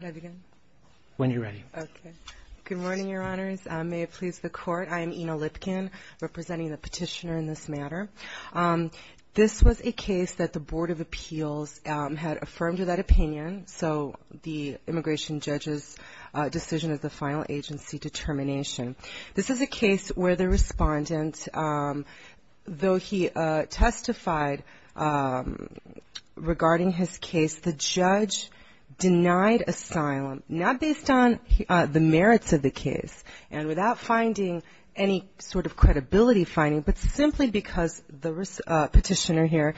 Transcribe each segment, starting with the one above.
Good morning, Your Honors. May it please the Court, I am Ina Lipkin, representing the petitioner in this matter. This was a case that the Board of Appeals had affirmed that opinion, so the immigration judge's decision is the final agency determination. This is a case where the respondent, though he testified regarding his case, the judge denied asylum, not based on the merits of the case and without finding any sort of credibility finding, but simply because the petitioner here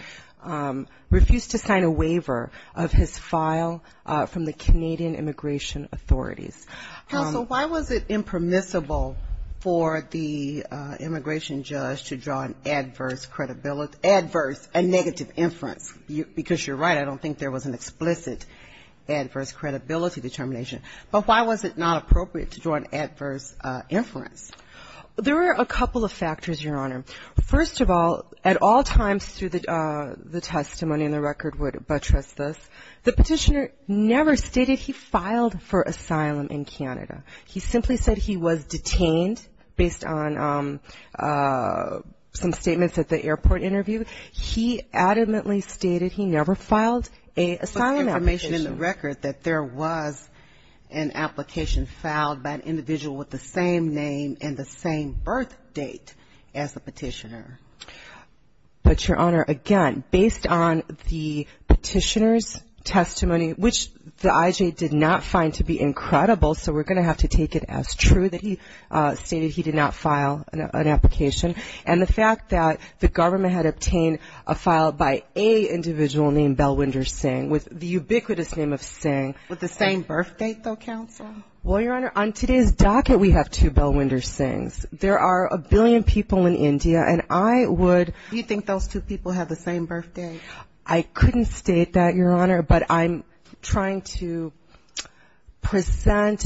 refused to sign a waiver of his file from the Canadian Immigration Authorities. Kagan So why was it impermissible for the immigration judge to draw an adverse credibility, adverse, a negative inference? Because you're right, I don't think there was an explicit adverse credibility determination. But why was it not appropriate to draw an adverse inference? Lipkin There were a couple of factors, Your Honor. First of all, at all times through the testimony in the record would buttress this. The petitioner never stated he filed for asylum in Canada. He simply said he was detained based on some statements at the airport interview. He adamantly stated he never filed an asylum application. Kagan But there was information in the record that there was an application filed by an individual with the same name and the same birth date as the petitioner. Lipkin But, Your Honor, again, based on the petitioner's testimony, which the IJ did not find to be incredible, so we're going to have to take it as true that he stated he did not file an application, and the fact that the government had obtained a file by a individual named Bellwinder Singh with the ubiquitous name of Singh. Kagan With the same birth date, though, counsel? Lipkin Well, Your Honor, on today's docket we have two Bellwinder Singhs. There are a billion people in India, and I would Kagan Do you think those two people have the same birth date? Lipkin I couldn't state that, Your Honor, but I'm trying to present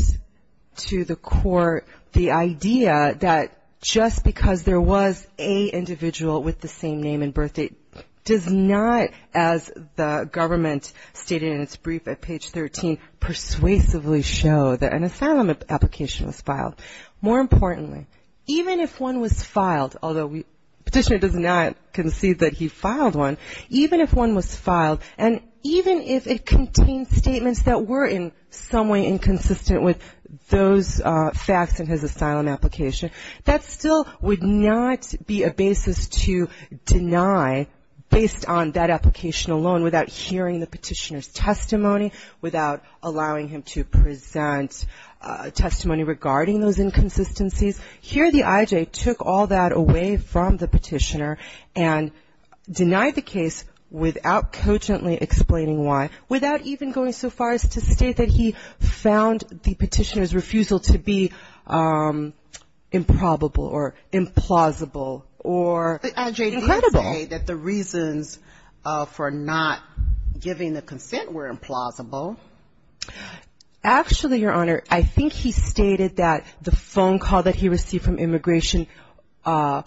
to the court the idea that just because there was a individual with the same name and birth date does not, as the government stated in its brief at page 13, persuasively show that an asylum application was filed. More importantly, even if one was filed, although the petitioner does not concede that he filed one, even if one was filed, and even if it contained statements that were in some way inconsistent with those facts in his asylum application, that still would not be a basis to deny, based on that application alone, without hearing the petitioner's testimony, without allowing him to present testimony regarding those inconsistencies. Here the I.J. took all that away from the petitioner and denied the case without cogently explaining why, without even going so far as to state that he found the petitioner's refusal to be improbable or implausible Kagan The I.J. did say that the reasons for not giving the consent were implausible. Actually, Your Honor, I think he stated that the phone call that he received from immigration, I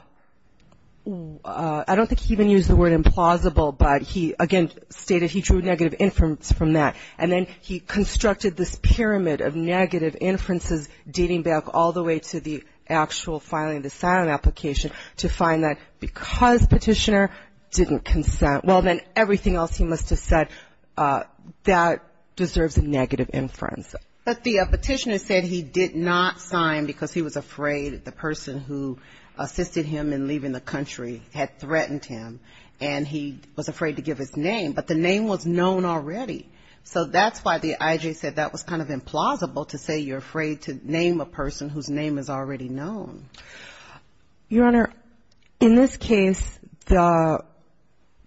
don't think he even used the word implausible, but he again stated he drew negative inference from that. And then he constructed this pyramid of negative inferences dating back all the way to the actual filing of the asylum application to find that because petitioner didn't consent. Well, then everything else he must have said, that deserves a negative inference. But the petitioner said he did not sign because he was afraid the person who assisted him in leaving the country had threatened him, and he was afraid to give his name, but the name was known already. So that's why the I.J. said that was kind of implausible to say you're afraid to name a person whose name is already known. Your Honor, in this case, the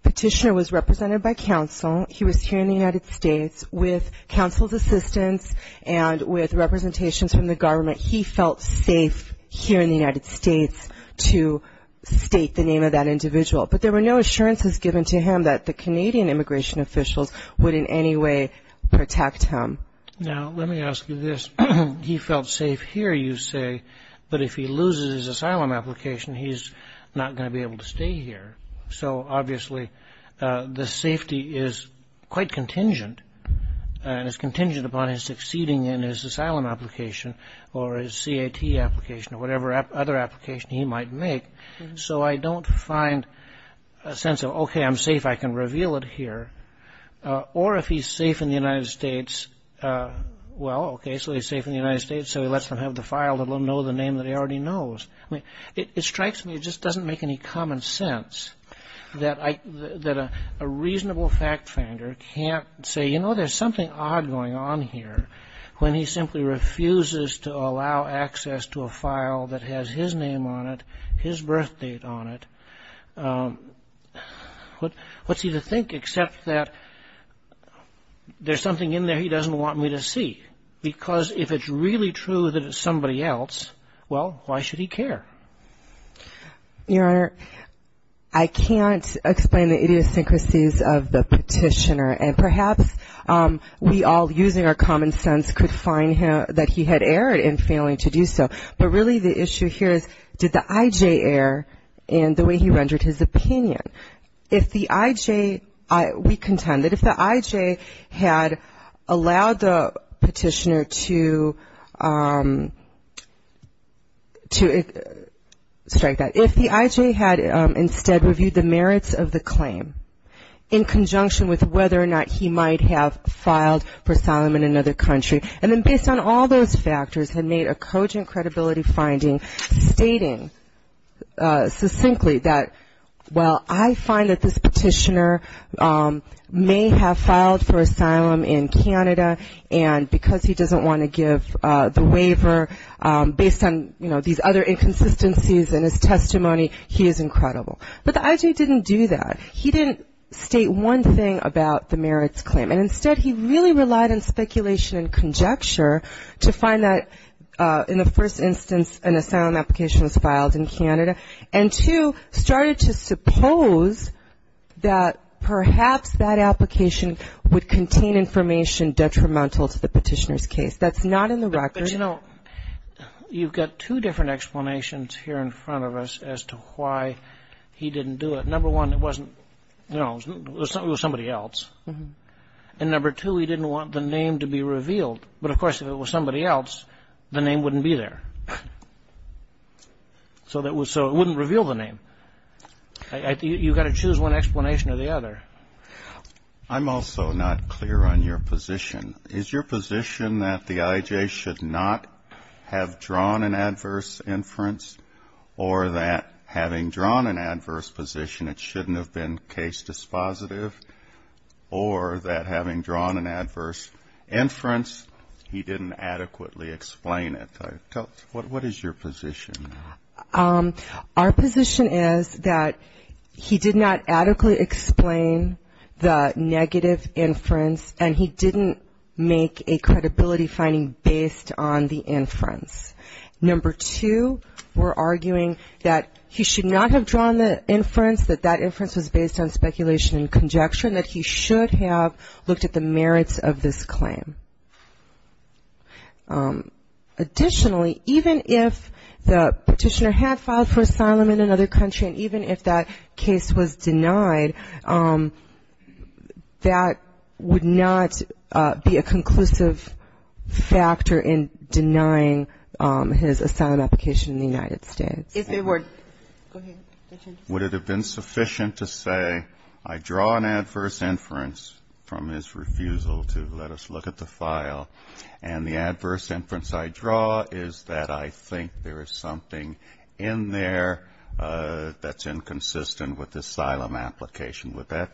petitioner was represented by counsel. He was here in the United States with counsel's assistance and with representations from the government. He felt safe here in the United States to state the name of that individual, but there were no assurances given to him that the Canadian immigration officials would in any way protect him. Now, let me ask you this. He felt safe here, you say, but if he loses his asylum application, he's not going to be able to stay here. So, obviously, the safety is quite contingent, and it's contingent upon his succeeding in his asylum application or his CAT application or whatever other application he might make. So I don't find a sense of, okay, I'm safe, I can reveal it here. Or if he's safe in the United States, well, okay, so he's safe in the United States, so he lets them have the file that will know the name that he already knows. It strikes me it just doesn't make any common sense that a reasonable fact finder can't say, you know, there's something odd going on here when he simply refuses to allow access to a file that has his name on it, his birth date on it. What's he to think except that there's something in there he doesn't want me to see? Because if it's really true that it's somebody else, well, why should he care? Your Honor, I can't explain the idiosyncrasies of the petitioner, and perhaps we all, using our common sense, could find that he had erred in failing to do so. But really the issue here is did the I.J. err in the way he rendered his opinion? If the I.J. We contend that if the I.J. had allowed the petitioner to strike that, if the I.J. had instead reviewed the merits of the claim in conjunction with whether or not he might have filed for asylum in another country, and then based on all those factors had made a cogent credibility finding stating succinctly that, well, I find that this petitioner may have filed for asylum in Canada, and because he doesn't want to give the waiver based on, you know, these other inconsistencies in his testimony, he is incredible. But the I.J. didn't do that. He didn't state one thing about the merits claim. And instead he really relied on speculation and conjecture to find that in the first instance an asylum application was filed in Canada and, two, started to suppose that perhaps that application would contain information detrimental to the petitioner's case. That's not in the record. But, you know, you've got two different explanations here in front of us as to why he didn't do it. Number one, it wasn't, you know, it was somebody else. And number two, he didn't want the name to be revealed. But, of course, if it was somebody else, the name wouldn't be there. So it wouldn't reveal the name. You've got to choose one explanation or the other. I'm also not clear on your position. Is your position that the I.J. should not have drawn an adverse inference or that having drawn an adverse position it shouldn't have been case dispositive or that having drawn an adverse inference he didn't adequately explain it? What is your position? Our position is that he did not adequately explain the negative inference and he didn't make a credibility finding based on the inference. Number two, we're arguing that he should not have drawn the inference, that that inference was based on speculation and conjecture, and that he should have looked at the merits of this claim. Additionally, even if the petitioner had filed for asylum in another country even if that case was denied, that would not be a conclusive factor in denying his asylum application in the United States. Would it have been sufficient to say I draw an adverse inference from his refusal to let us look at the file, and the adverse inference I draw is that I think there is something in there that's inconsistent with the asylum application? Would that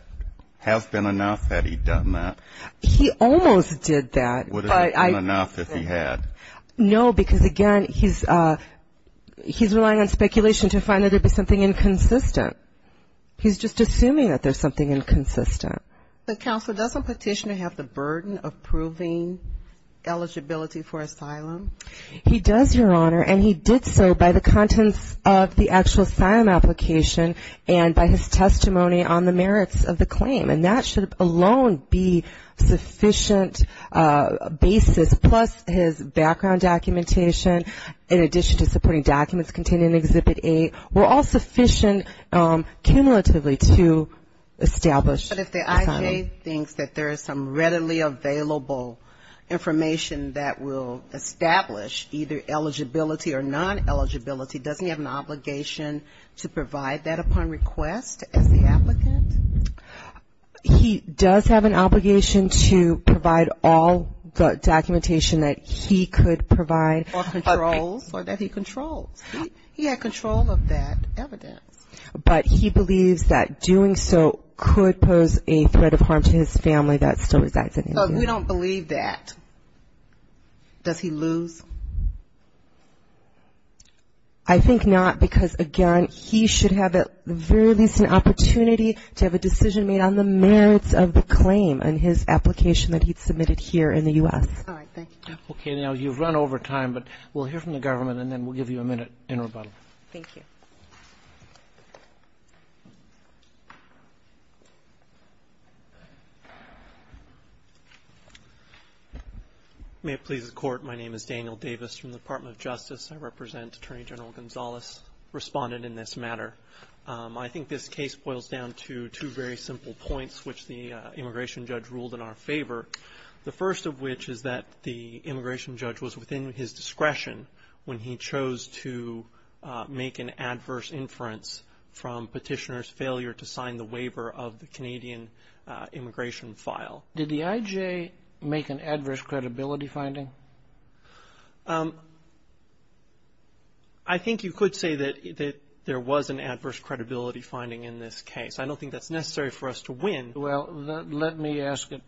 have been enough had he done that? He almost did that. Would it have been enough if he had? No, because, again, he's relying on speculation to find that there'd be something inconsistent. He's just assuming that there's something inconsistent. But, Counselor, doesn't Petitioner have the burden of proving eligibility for asylum? He does, Your Honor, and he did so by the contents of the actual asylum application and by his testimony on the merits of the claim. And that should alone be sufficient basis, plus his background documentation in addition to supporting documents contained in Exhibit A were all sufficient cumulatively to establish asylum. If Petitioner today thinks that there is some readily available information that will establish either eligibility or non-eligibility, doesn't he have an obligation to provide that upon request as the applicant? He does have an obligation to provide all the documentation that he could provide. Or controls, or that he controls. He had control of that evidence. But he believes that doing so could pose a threat of harm to his family that still resides in India. So if we don't believe that, does he lose? I think not, because, again, he should have at the very least an opportunity to have a decision made on the merits of the claim and his application that he'd submitted here in the U.S. All right. Thank you. Okay. Now, you've run over time, but we'll hear from the government and then we'll give you a minute in rebuttal. Thank you. May it please the Court. My name is Daniel Davis from the Department of Justice. I represent Attorney General Gonzalez, Respondent in this matter. I think this case boils down to two very simple points which the immigration judge ruled in our favor, the first of which is that the immigration judge was within his discretion when he chose to make an adverse inference from petitioner's failure to sign the waiver of the Canadian immigration file. Did the IJ make an adverse credibility finding? I think you could say that there was an adverse credibility finding in this case. I don't think that's necessary for us to win. Well, let me ask it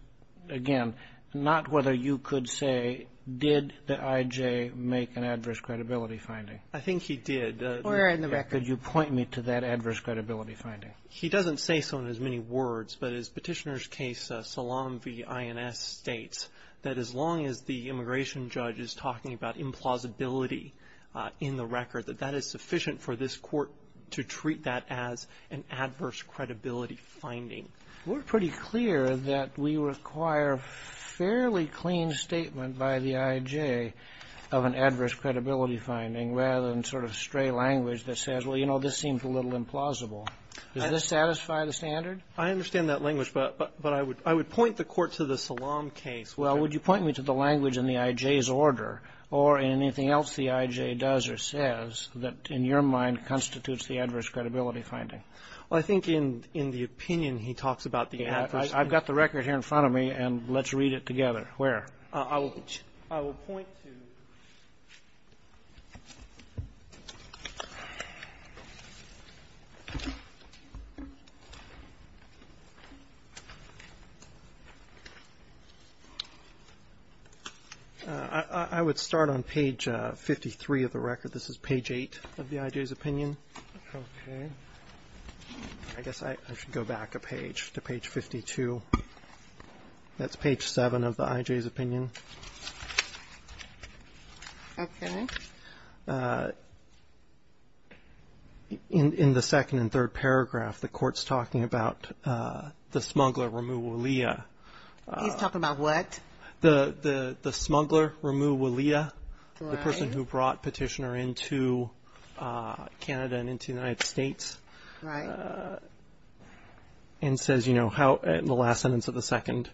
again. Not whether you could say did the IJ make an adverse credibility finding. I think he did. Or in the record. Could you point me to that adverse credibility finding? He doesn't say so in as many words, but his petitioner's case, Salam v. INS, states that as long as the immigration judge is talking about implausibility in the record, that that is sufficient for this Court to treat that as an adverse credibility finding. We're pretty clear that we require fairly clean statement by the IJ of an adverse credibility finding rather than sort of stray language that says, well, you know, this seems a little implausible. Does this satisfy the standard? I understand that language, but I would point the Court to the Salam case. Well, would you point me to the language in the IJ's order or in anything else the IJ does or says that in your mind constitutes the adverse credibility finding? Well, I think in the opinion he talks about the adverse. I've got the record here in front of me, and let's read it together. Where? I will point to. I would start on page 53 of the record. This is page 8 of the IJ's opinion. Okay. I guess I should go back a page to page 52. That's page 7 of the IJ's opinion. Okay. In the second and third paragraph, the Court's talking about the smuggler, Ramu Walia. He's talking about what? The smuggler, Ramu Walia. Right. The person who brought Petitioner into Canada and into the United States. Right. And says, you know, in the last sentence of the second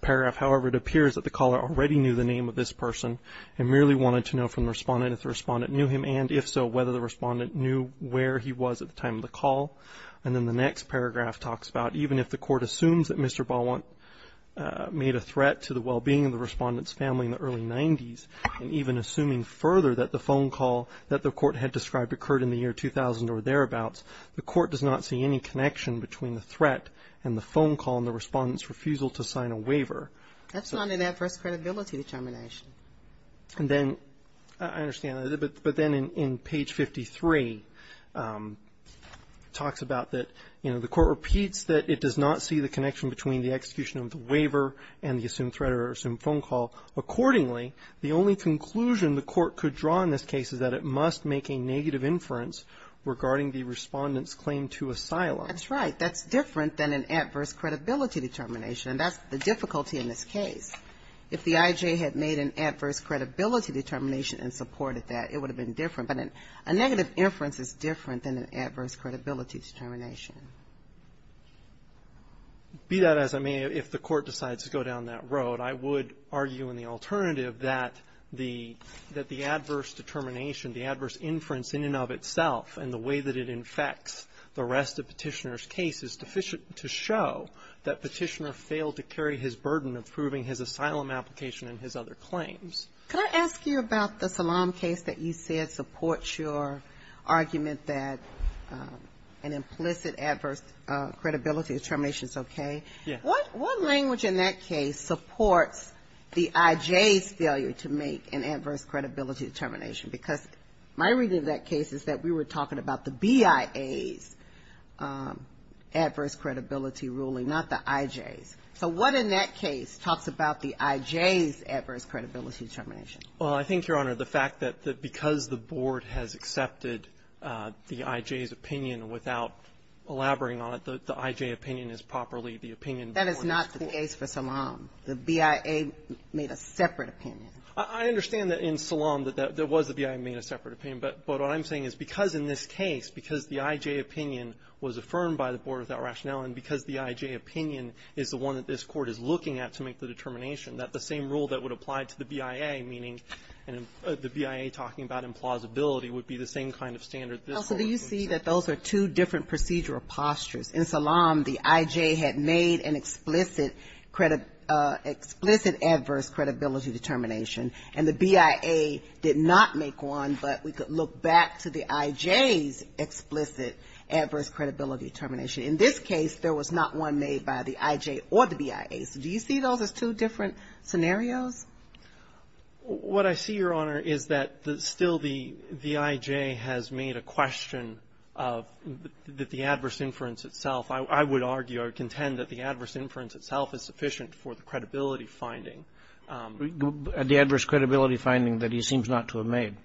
paragraph, however, it appears that the caller already knew the name of this person and merely wanted to know from the respondent if the respondent knew him, and if so, whether the respondent knew where he was at the time of the call. And then the next paragraph talks about even if the Court assumes that Mr. Balwant made a threat to the well-being of the respondent's family in the early 1990s, and even assuming further that the phone call that the Court had described occurred in the year 2000 or thereabouts, the Court does not see any connection between the threat and the phone call and the respondent's refusal to sign a waiver. That's not an adverse credibility determination. And then, I understand that. But then in page 53, it talks about that, you know, the Court repeats that it does not see the connection between the execution of conclusion the Court could draw in this case is that it must make a negative inference regarding the respondent's claim to asylum. That's right. That's different than an adverse credibility determination. And that's the difficulty in this case. If the IJ had made an adverse credibility determination and supported that, it would have been different. But a negative inference is different than an adverse credibility determination. Be that as it may, if the Court decides to go down that road, I would argue in the alternative that the adverse determination, the adverse inference in and of itself and the way that it infects the rest of Petitioner's case is deficient to show that Petitioner failed to carry his burden of proving his asylum application and his other claims. Can I ask you about the Salam case that you said supports your argument that an implicit adverse credibility determination is okay? Yes. What language in that case supports the IJ's failure to make an adverse credibility determination? Because my reading of that case is that we were talking about the BIA's adverse credibility ruling, not the IJ's. So what in that case talks about the IJ's adverse credibility determination? Well, I think, Your Honor, the fact that because the Board has accepted the IJ's without elaborating on it, the IJ opinion is properly the opinion of the Board. That is not the case for Salam. The BIA made a separate opinion. I understand that in Salam there was a BIA made a separate opinion. But what I'm saying is because in this case, because the IJ opinion was affirmed by the Board without rationale and because the IJ opinion is the one that this Court is looking at to make the determination, that the same rule that would apply to the BIA, meaning the BIA talking about implausibility, would be the same kind of standard. So do you see that those are two different procedural postures? In Salam, the IJ had made an explicit adverse credibility determination. And the BIA did not make one. But we could look back to the IJ's explicit adverse credibility determination. In this case, there was not one made by the IJ or the BIA. So do you see those as two different scenarios? What I see, Your Honor, is that still the IJ has made a question of the adverse inference itself. I would argue or contend that the adverse inference itself is sufficient for the credibility finding. The adverse credibility finding that he seems not to have made.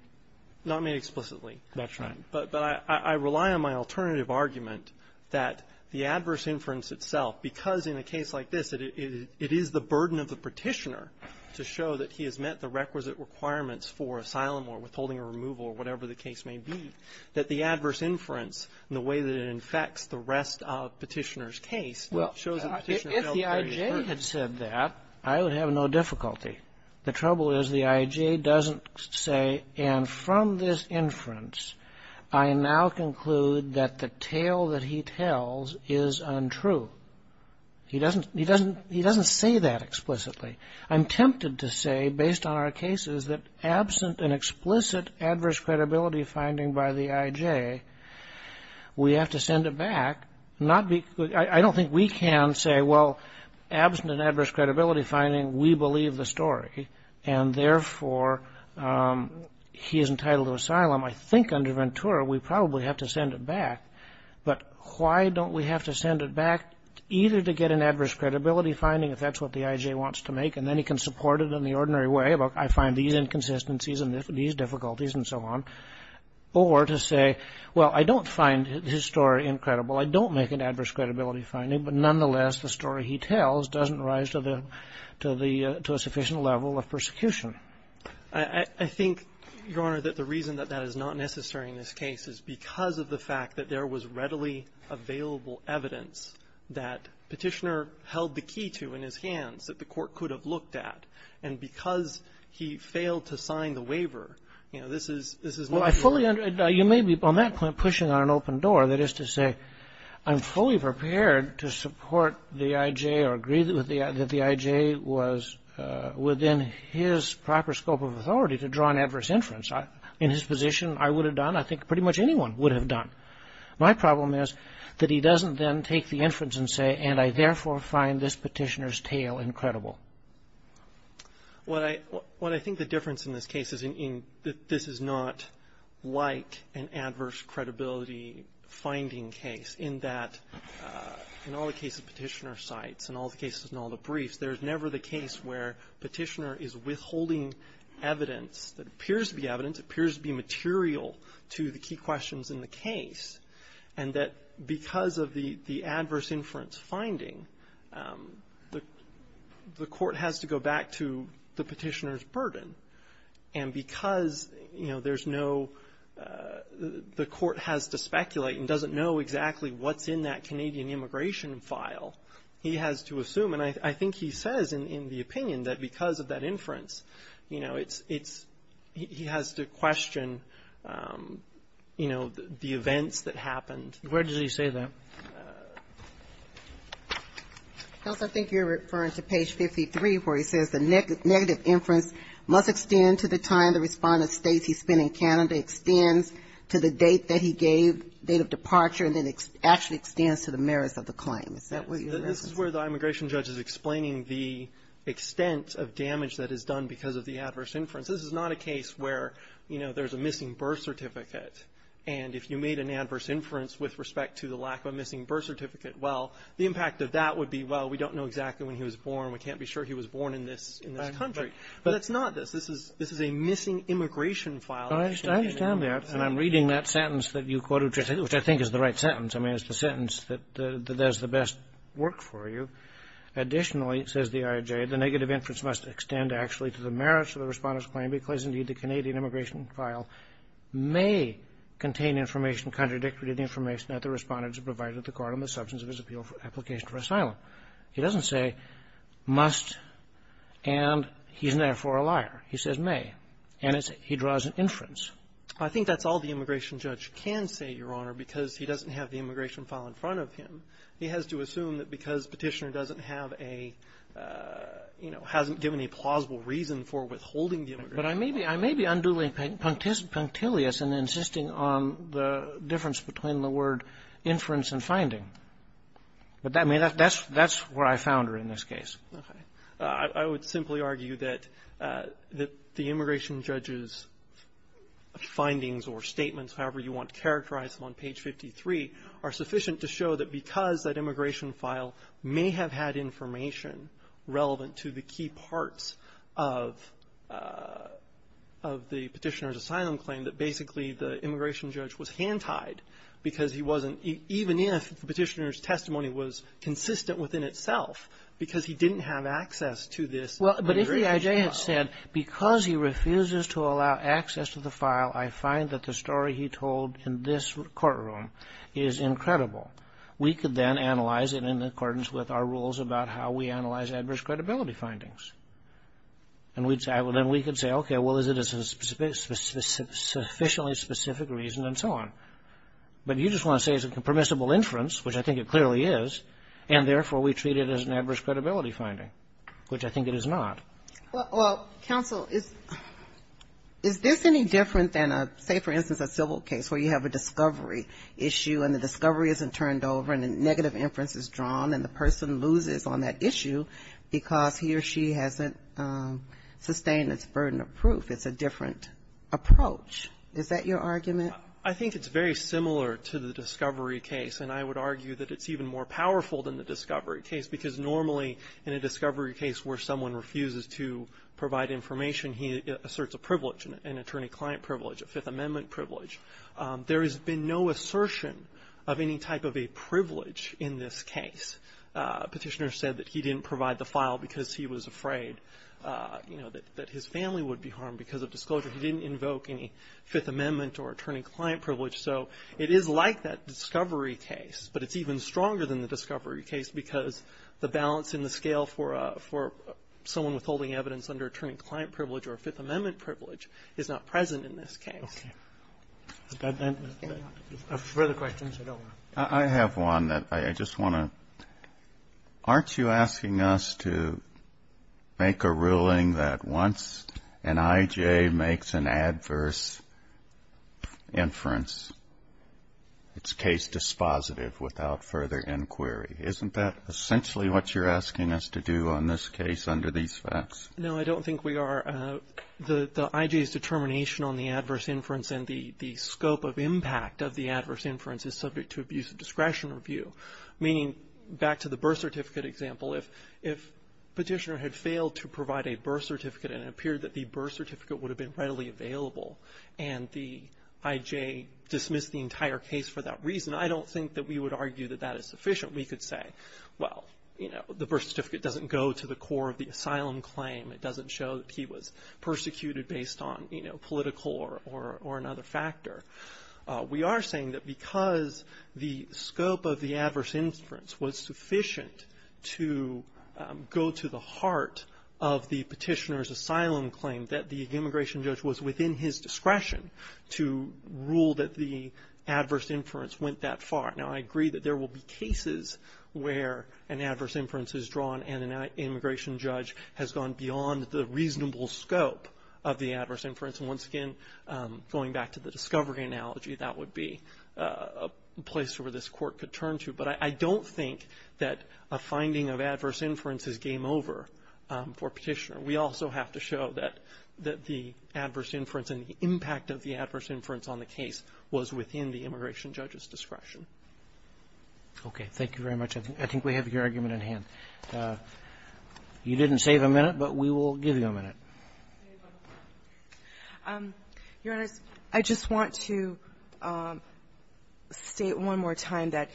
Not made explicitly. That's right. But I rely on my alternative argument that the adverse inference itself, because in a case like this, it is the burden of the Petitioner to show that he has met the requisite requirements for asylum or withholding or removal or whatever the case may be, that the adverse inference and the way that it infects the rest of Petitioner's case shows that Petitioner felt very certain. Well, if the IJ had said that, I would have no difficulty. The trouble is the IJ doesn't say, and from this inference, I now conclude that the He doesn't say that explicitly. I'm tempted to say, based on our cases, that absent an explicit adverse credibility finding by the IJ, we have to send it back. I don't think we can say, well, absent an adverse credibility finding, we believe the story, and therefore he is entitled to asylum. I think under Ventura we probably have to send it back. But why don't we have to send it back either to get an adverse credibility finding, if that's what the IJ wants to make, and then he can support it in the ordinary way, I find these inconsistencies and these difficulties and so on, or to say, well, I don't find his story incredible, I don't make an adverse credibility finding, but nonetheless, the story he tells doesn't rise to the to a sufficient level of persecution. I think, Your Honor, that the reason that that is not necessary in this case is because of the fact that there was readily available evidence that Petitioner held the key to in his hands that the Court could have looked at, and because he failed to sign the waiver, you know, this is not the case. Well, I fully understand. You may be, on that point, pushing on an open door. That is to say, I'm fully prepared to support the IJ or agree that the IJ was within his proper scope of authority to draw an adverse inference. In his position, I would have done, I think pretty much anyone would have done. My problem is that he doesn't then take the inference and say, and I therefore find this Petitioner's tale incredible. What I think the difference in this case is that this is not like an adverse credibility finding case in that, in all the cases Petitioner cites, in all the cases, in all the briefs, there is never the case where Petitioner is withholding evidence that appears to be evidence, appears to be material to the key questions in the case, and that because of the adverse inference finding, the Court has to go back to the Petitioner's burden, and because, you know, there's no, the Court has to speculate and doesn't know exactly what's in that Canadian immigration file, he has to assume, and I think he says in the opinion that because of that inference, you know, it's, it's, he has to question, you know, the events that happened. Where does he say that? I think you're referring to page 53 where he says the negative inference must extend to the time the Respondent states he's been in Canada, extends to the date that he gave date of departure, and then actually extends to the merits of the claim. Is that what you're referencing? This is where the immigration judge is explaining the extent of damage that is done because of the adverse inference. This is not a case where, you know, there's a missing birth certificate, and if you made an adverse inference with respect to the lack of a missing birth certificate, well, the impact of that would be, well, we don't know exactly when he was born. We can't be sure he was born in this country. But it's not this. This is a missing immigration file. But I understand that, and I'm reading that sentence that you quoted, which I think is the right sentence. I mean, it's the sentence that does the best work for you. Additionally, it says the IRJ, the negative inference must extend, actually, to the merits of the Respondent's claim because, indeed, the Canadian immigration file may contain information contradictory to the information that the Respondent has provided at the court on the substance of his appeal for application for asylum. He doesn't say must and he's, therefore, a liar. He says may. And it's he draws an inference. I think that's all the immigration judge can say, Your Honor, because he doesn't have the immigration file in front of him. He has to assume that because Petitioner doesn't have a, you know, hasn't given a plausible reason for withholding the immigration file. But I may be undoing punctilius and insisting on the difference between the word inference and finding. But that's where I found her in this case. Okay. I would simply argue that the immigration judge's findings or statements, however you want to characterize them, on page 53 are sufficient to show that because that immigration file may have had information relevant to the key parts of the Petitioner's asylum claim, that basically the immigration judge was hand-tied because he wasn't even if the Petitioner's testimony was consistent within itself because he didn't have access to this immigration file. Well, but if EIJ had said because he refuses to allow access to the file, I find that the story he told in this courtroom is incredible, we could then analyze it in accordance with our rules about how we analyze adverse credibility findings. And we'd say, well, then we could say, okay, well, is it a sufficiently specific reason and so on. But you just want to say it's a permissible inference, which I think it clearly is, and, therefore, we treat it as an adverse credibility finding, which I think it is not. Well, counsel, is this any different than, say, for instance, a civil case where you have a discovery issue and the discovery isn't turned over and a negative inference is drawn and the person loses on that issue because he or she hasn't sustained its burden of proof. It's a different approach. Is that your argument? I think it's very similar to the discovery case, and I would argue that it's even more powerful than the discovery case because normally in a discovery case where someone refuses to provide information, he asserts a privilege, an attorney-client privilege, a Fifth Amendment privilege. There has been no assertion of any type of a privilege in this case. Petitioner said that he didn't provide the file because he was afraid, you know, that his family would be harmed because of disclosure. He didn't invoke any Fifth Amendment or attorney-client privilege. So it is like that discovery case, but it's even stronger than the discovery case because the balance in the scale for someone withholding evidence under attorney- client privilege or Fifth Amendment privilege is not present in this case. Okay. Further questions? I have one that I just want to ask. Aren't you asking us to make a ruling that once an I.J. makes an adverse inference, it's case dispositive without further inquiry? Isn't that essentially what you're asking us to do on this case under these facts? No, I don't think we are. The I.J.'s determination on the adverse inference and the scope of impact of the birth certificate example, if Petitioner had failed to provide a birth certificate and it appeared that the birth certificate would have been readily available and the I.J. dismissed the entire case for that reason, I don't think that we would argue that that is sufficient. We could say, well, you know, the birth certificate doesn't go to the core of the asylum claim. It doesn't show that he was persecuted based on, you know, political or another factor. We are saying that because the scope of the adverse inference was sufficient to go to the heart of the Petitioner's asylum claim, that the immigration judge was within his discretion to rule that the adverse inference went that far. Now, I agree that there will be cases where an adverse inference is drawn and an immigration judge has gone beyond the reasonable scope of the adverse inference. And once again, going back to the discovery analogy, that would be a place where this court could turn to. But I don't think that a finding of adverse inference is game over for Petitioner. We also have to show that the adverse inference and the impact of the adverse inference on the case was within the immigration judge's discretion. Okay, thank you very much. I think we have your argument in hand. You didn't save a minute, but we will give you a minute. Your Honor, I just want to state one more time that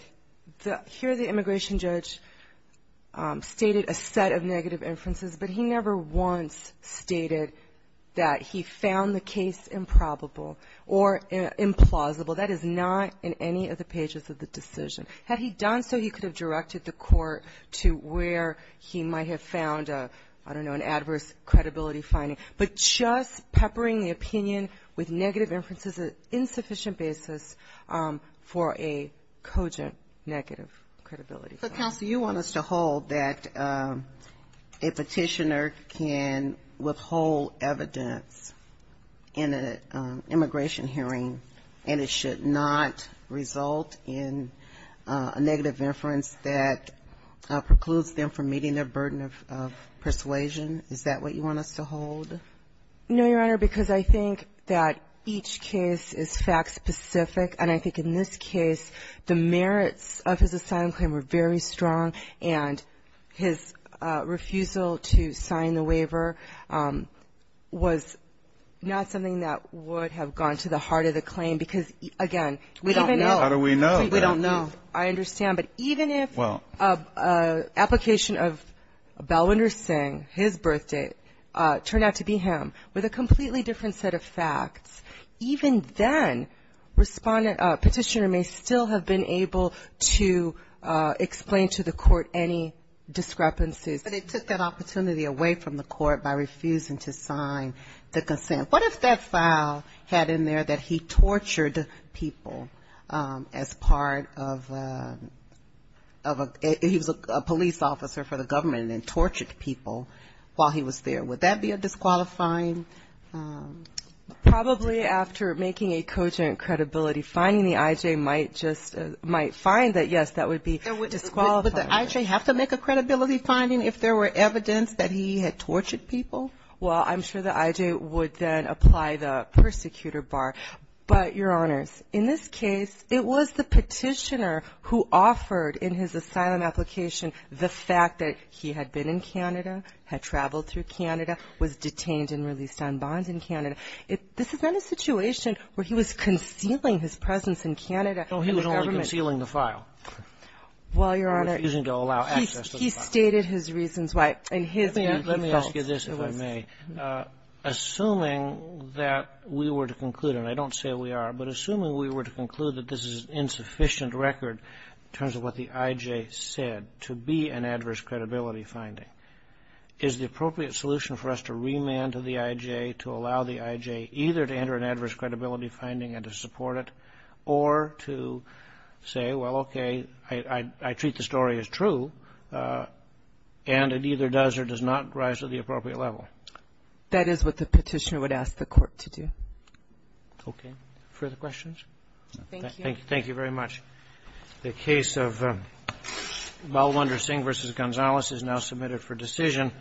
here the immigration judge stated a set of negative inferences, but he never once stated that he found the case improbable or implausible. That is not in any of the pages of the decision. Had he done so, he could have directed the court to where he might have found, I don't know, an adverse credibility finding. But just peppering the opinion with negative inferences is an insufficient basis for a cogent negative credibility finding. Counsel, you want us to hold that a Petitioner can withhold evidence in an immigration hearing and it should not result in a negative inference that precludes them from meeting their burden of persuasion? Is that what you want us to hold? No, Your Honor, because I think that each case is fact-specific. And I think in this case, the merits of his assigned claim were very strong, and his refusal to sign the waiver was not something that would have gone to the heart of the claim because, again, even if we don't know. How do we know? I understand. But even if an application of Balwinder Singh, his birth date, turned out to be him with a completely different set of facts, even then, Petitioner may still have been able to explain to the court any discrepancies. But it took that opportunity away from the court by refusing to sign the consent. What if that file had in there that he tortured people as part of a he was a police officer for the government and then tortured people while he was there? Would that be a disqualifying? Probably after making a cogent credibility finding, the I.J. might find that, yes, that would be disqualifying. Would the I.J. have to make a credibility finding if there were evidence that he had tortured people? Well, I'm sure the I.J. would then apply the persecutor bar. But, Your Honors, in this case, it was the Petitioner who offered in his asylum application the fact that he had been in Canada, had traveled through Canada, was detained and released on bond in Canada. This is not a situation where he was concealing his presence in Canada. No, he was only concealing the file. Well, Your Honor, he stated his reasons why. Let me ask you this, if I may. Assuming that we were to conclude, and I don't say we are, but assuming we were to conclude that this is an insufficient record in terms of what the I.J. said to be an adverse credibility finding, is the appropriate solution for us to remand to the I.J. to allow the I.J. either to enter an adverse credibility finding and to support it or to say, well, okay, I treat the story as true, and it either does or does not rise to the appropriate level? That is what the Petitioner would ask the Court to do. Okay. Further questions? Thank you very much. Thank you. Thank you very much. The case of Balwinder Singh v. Gonzalez is now submitted for decision.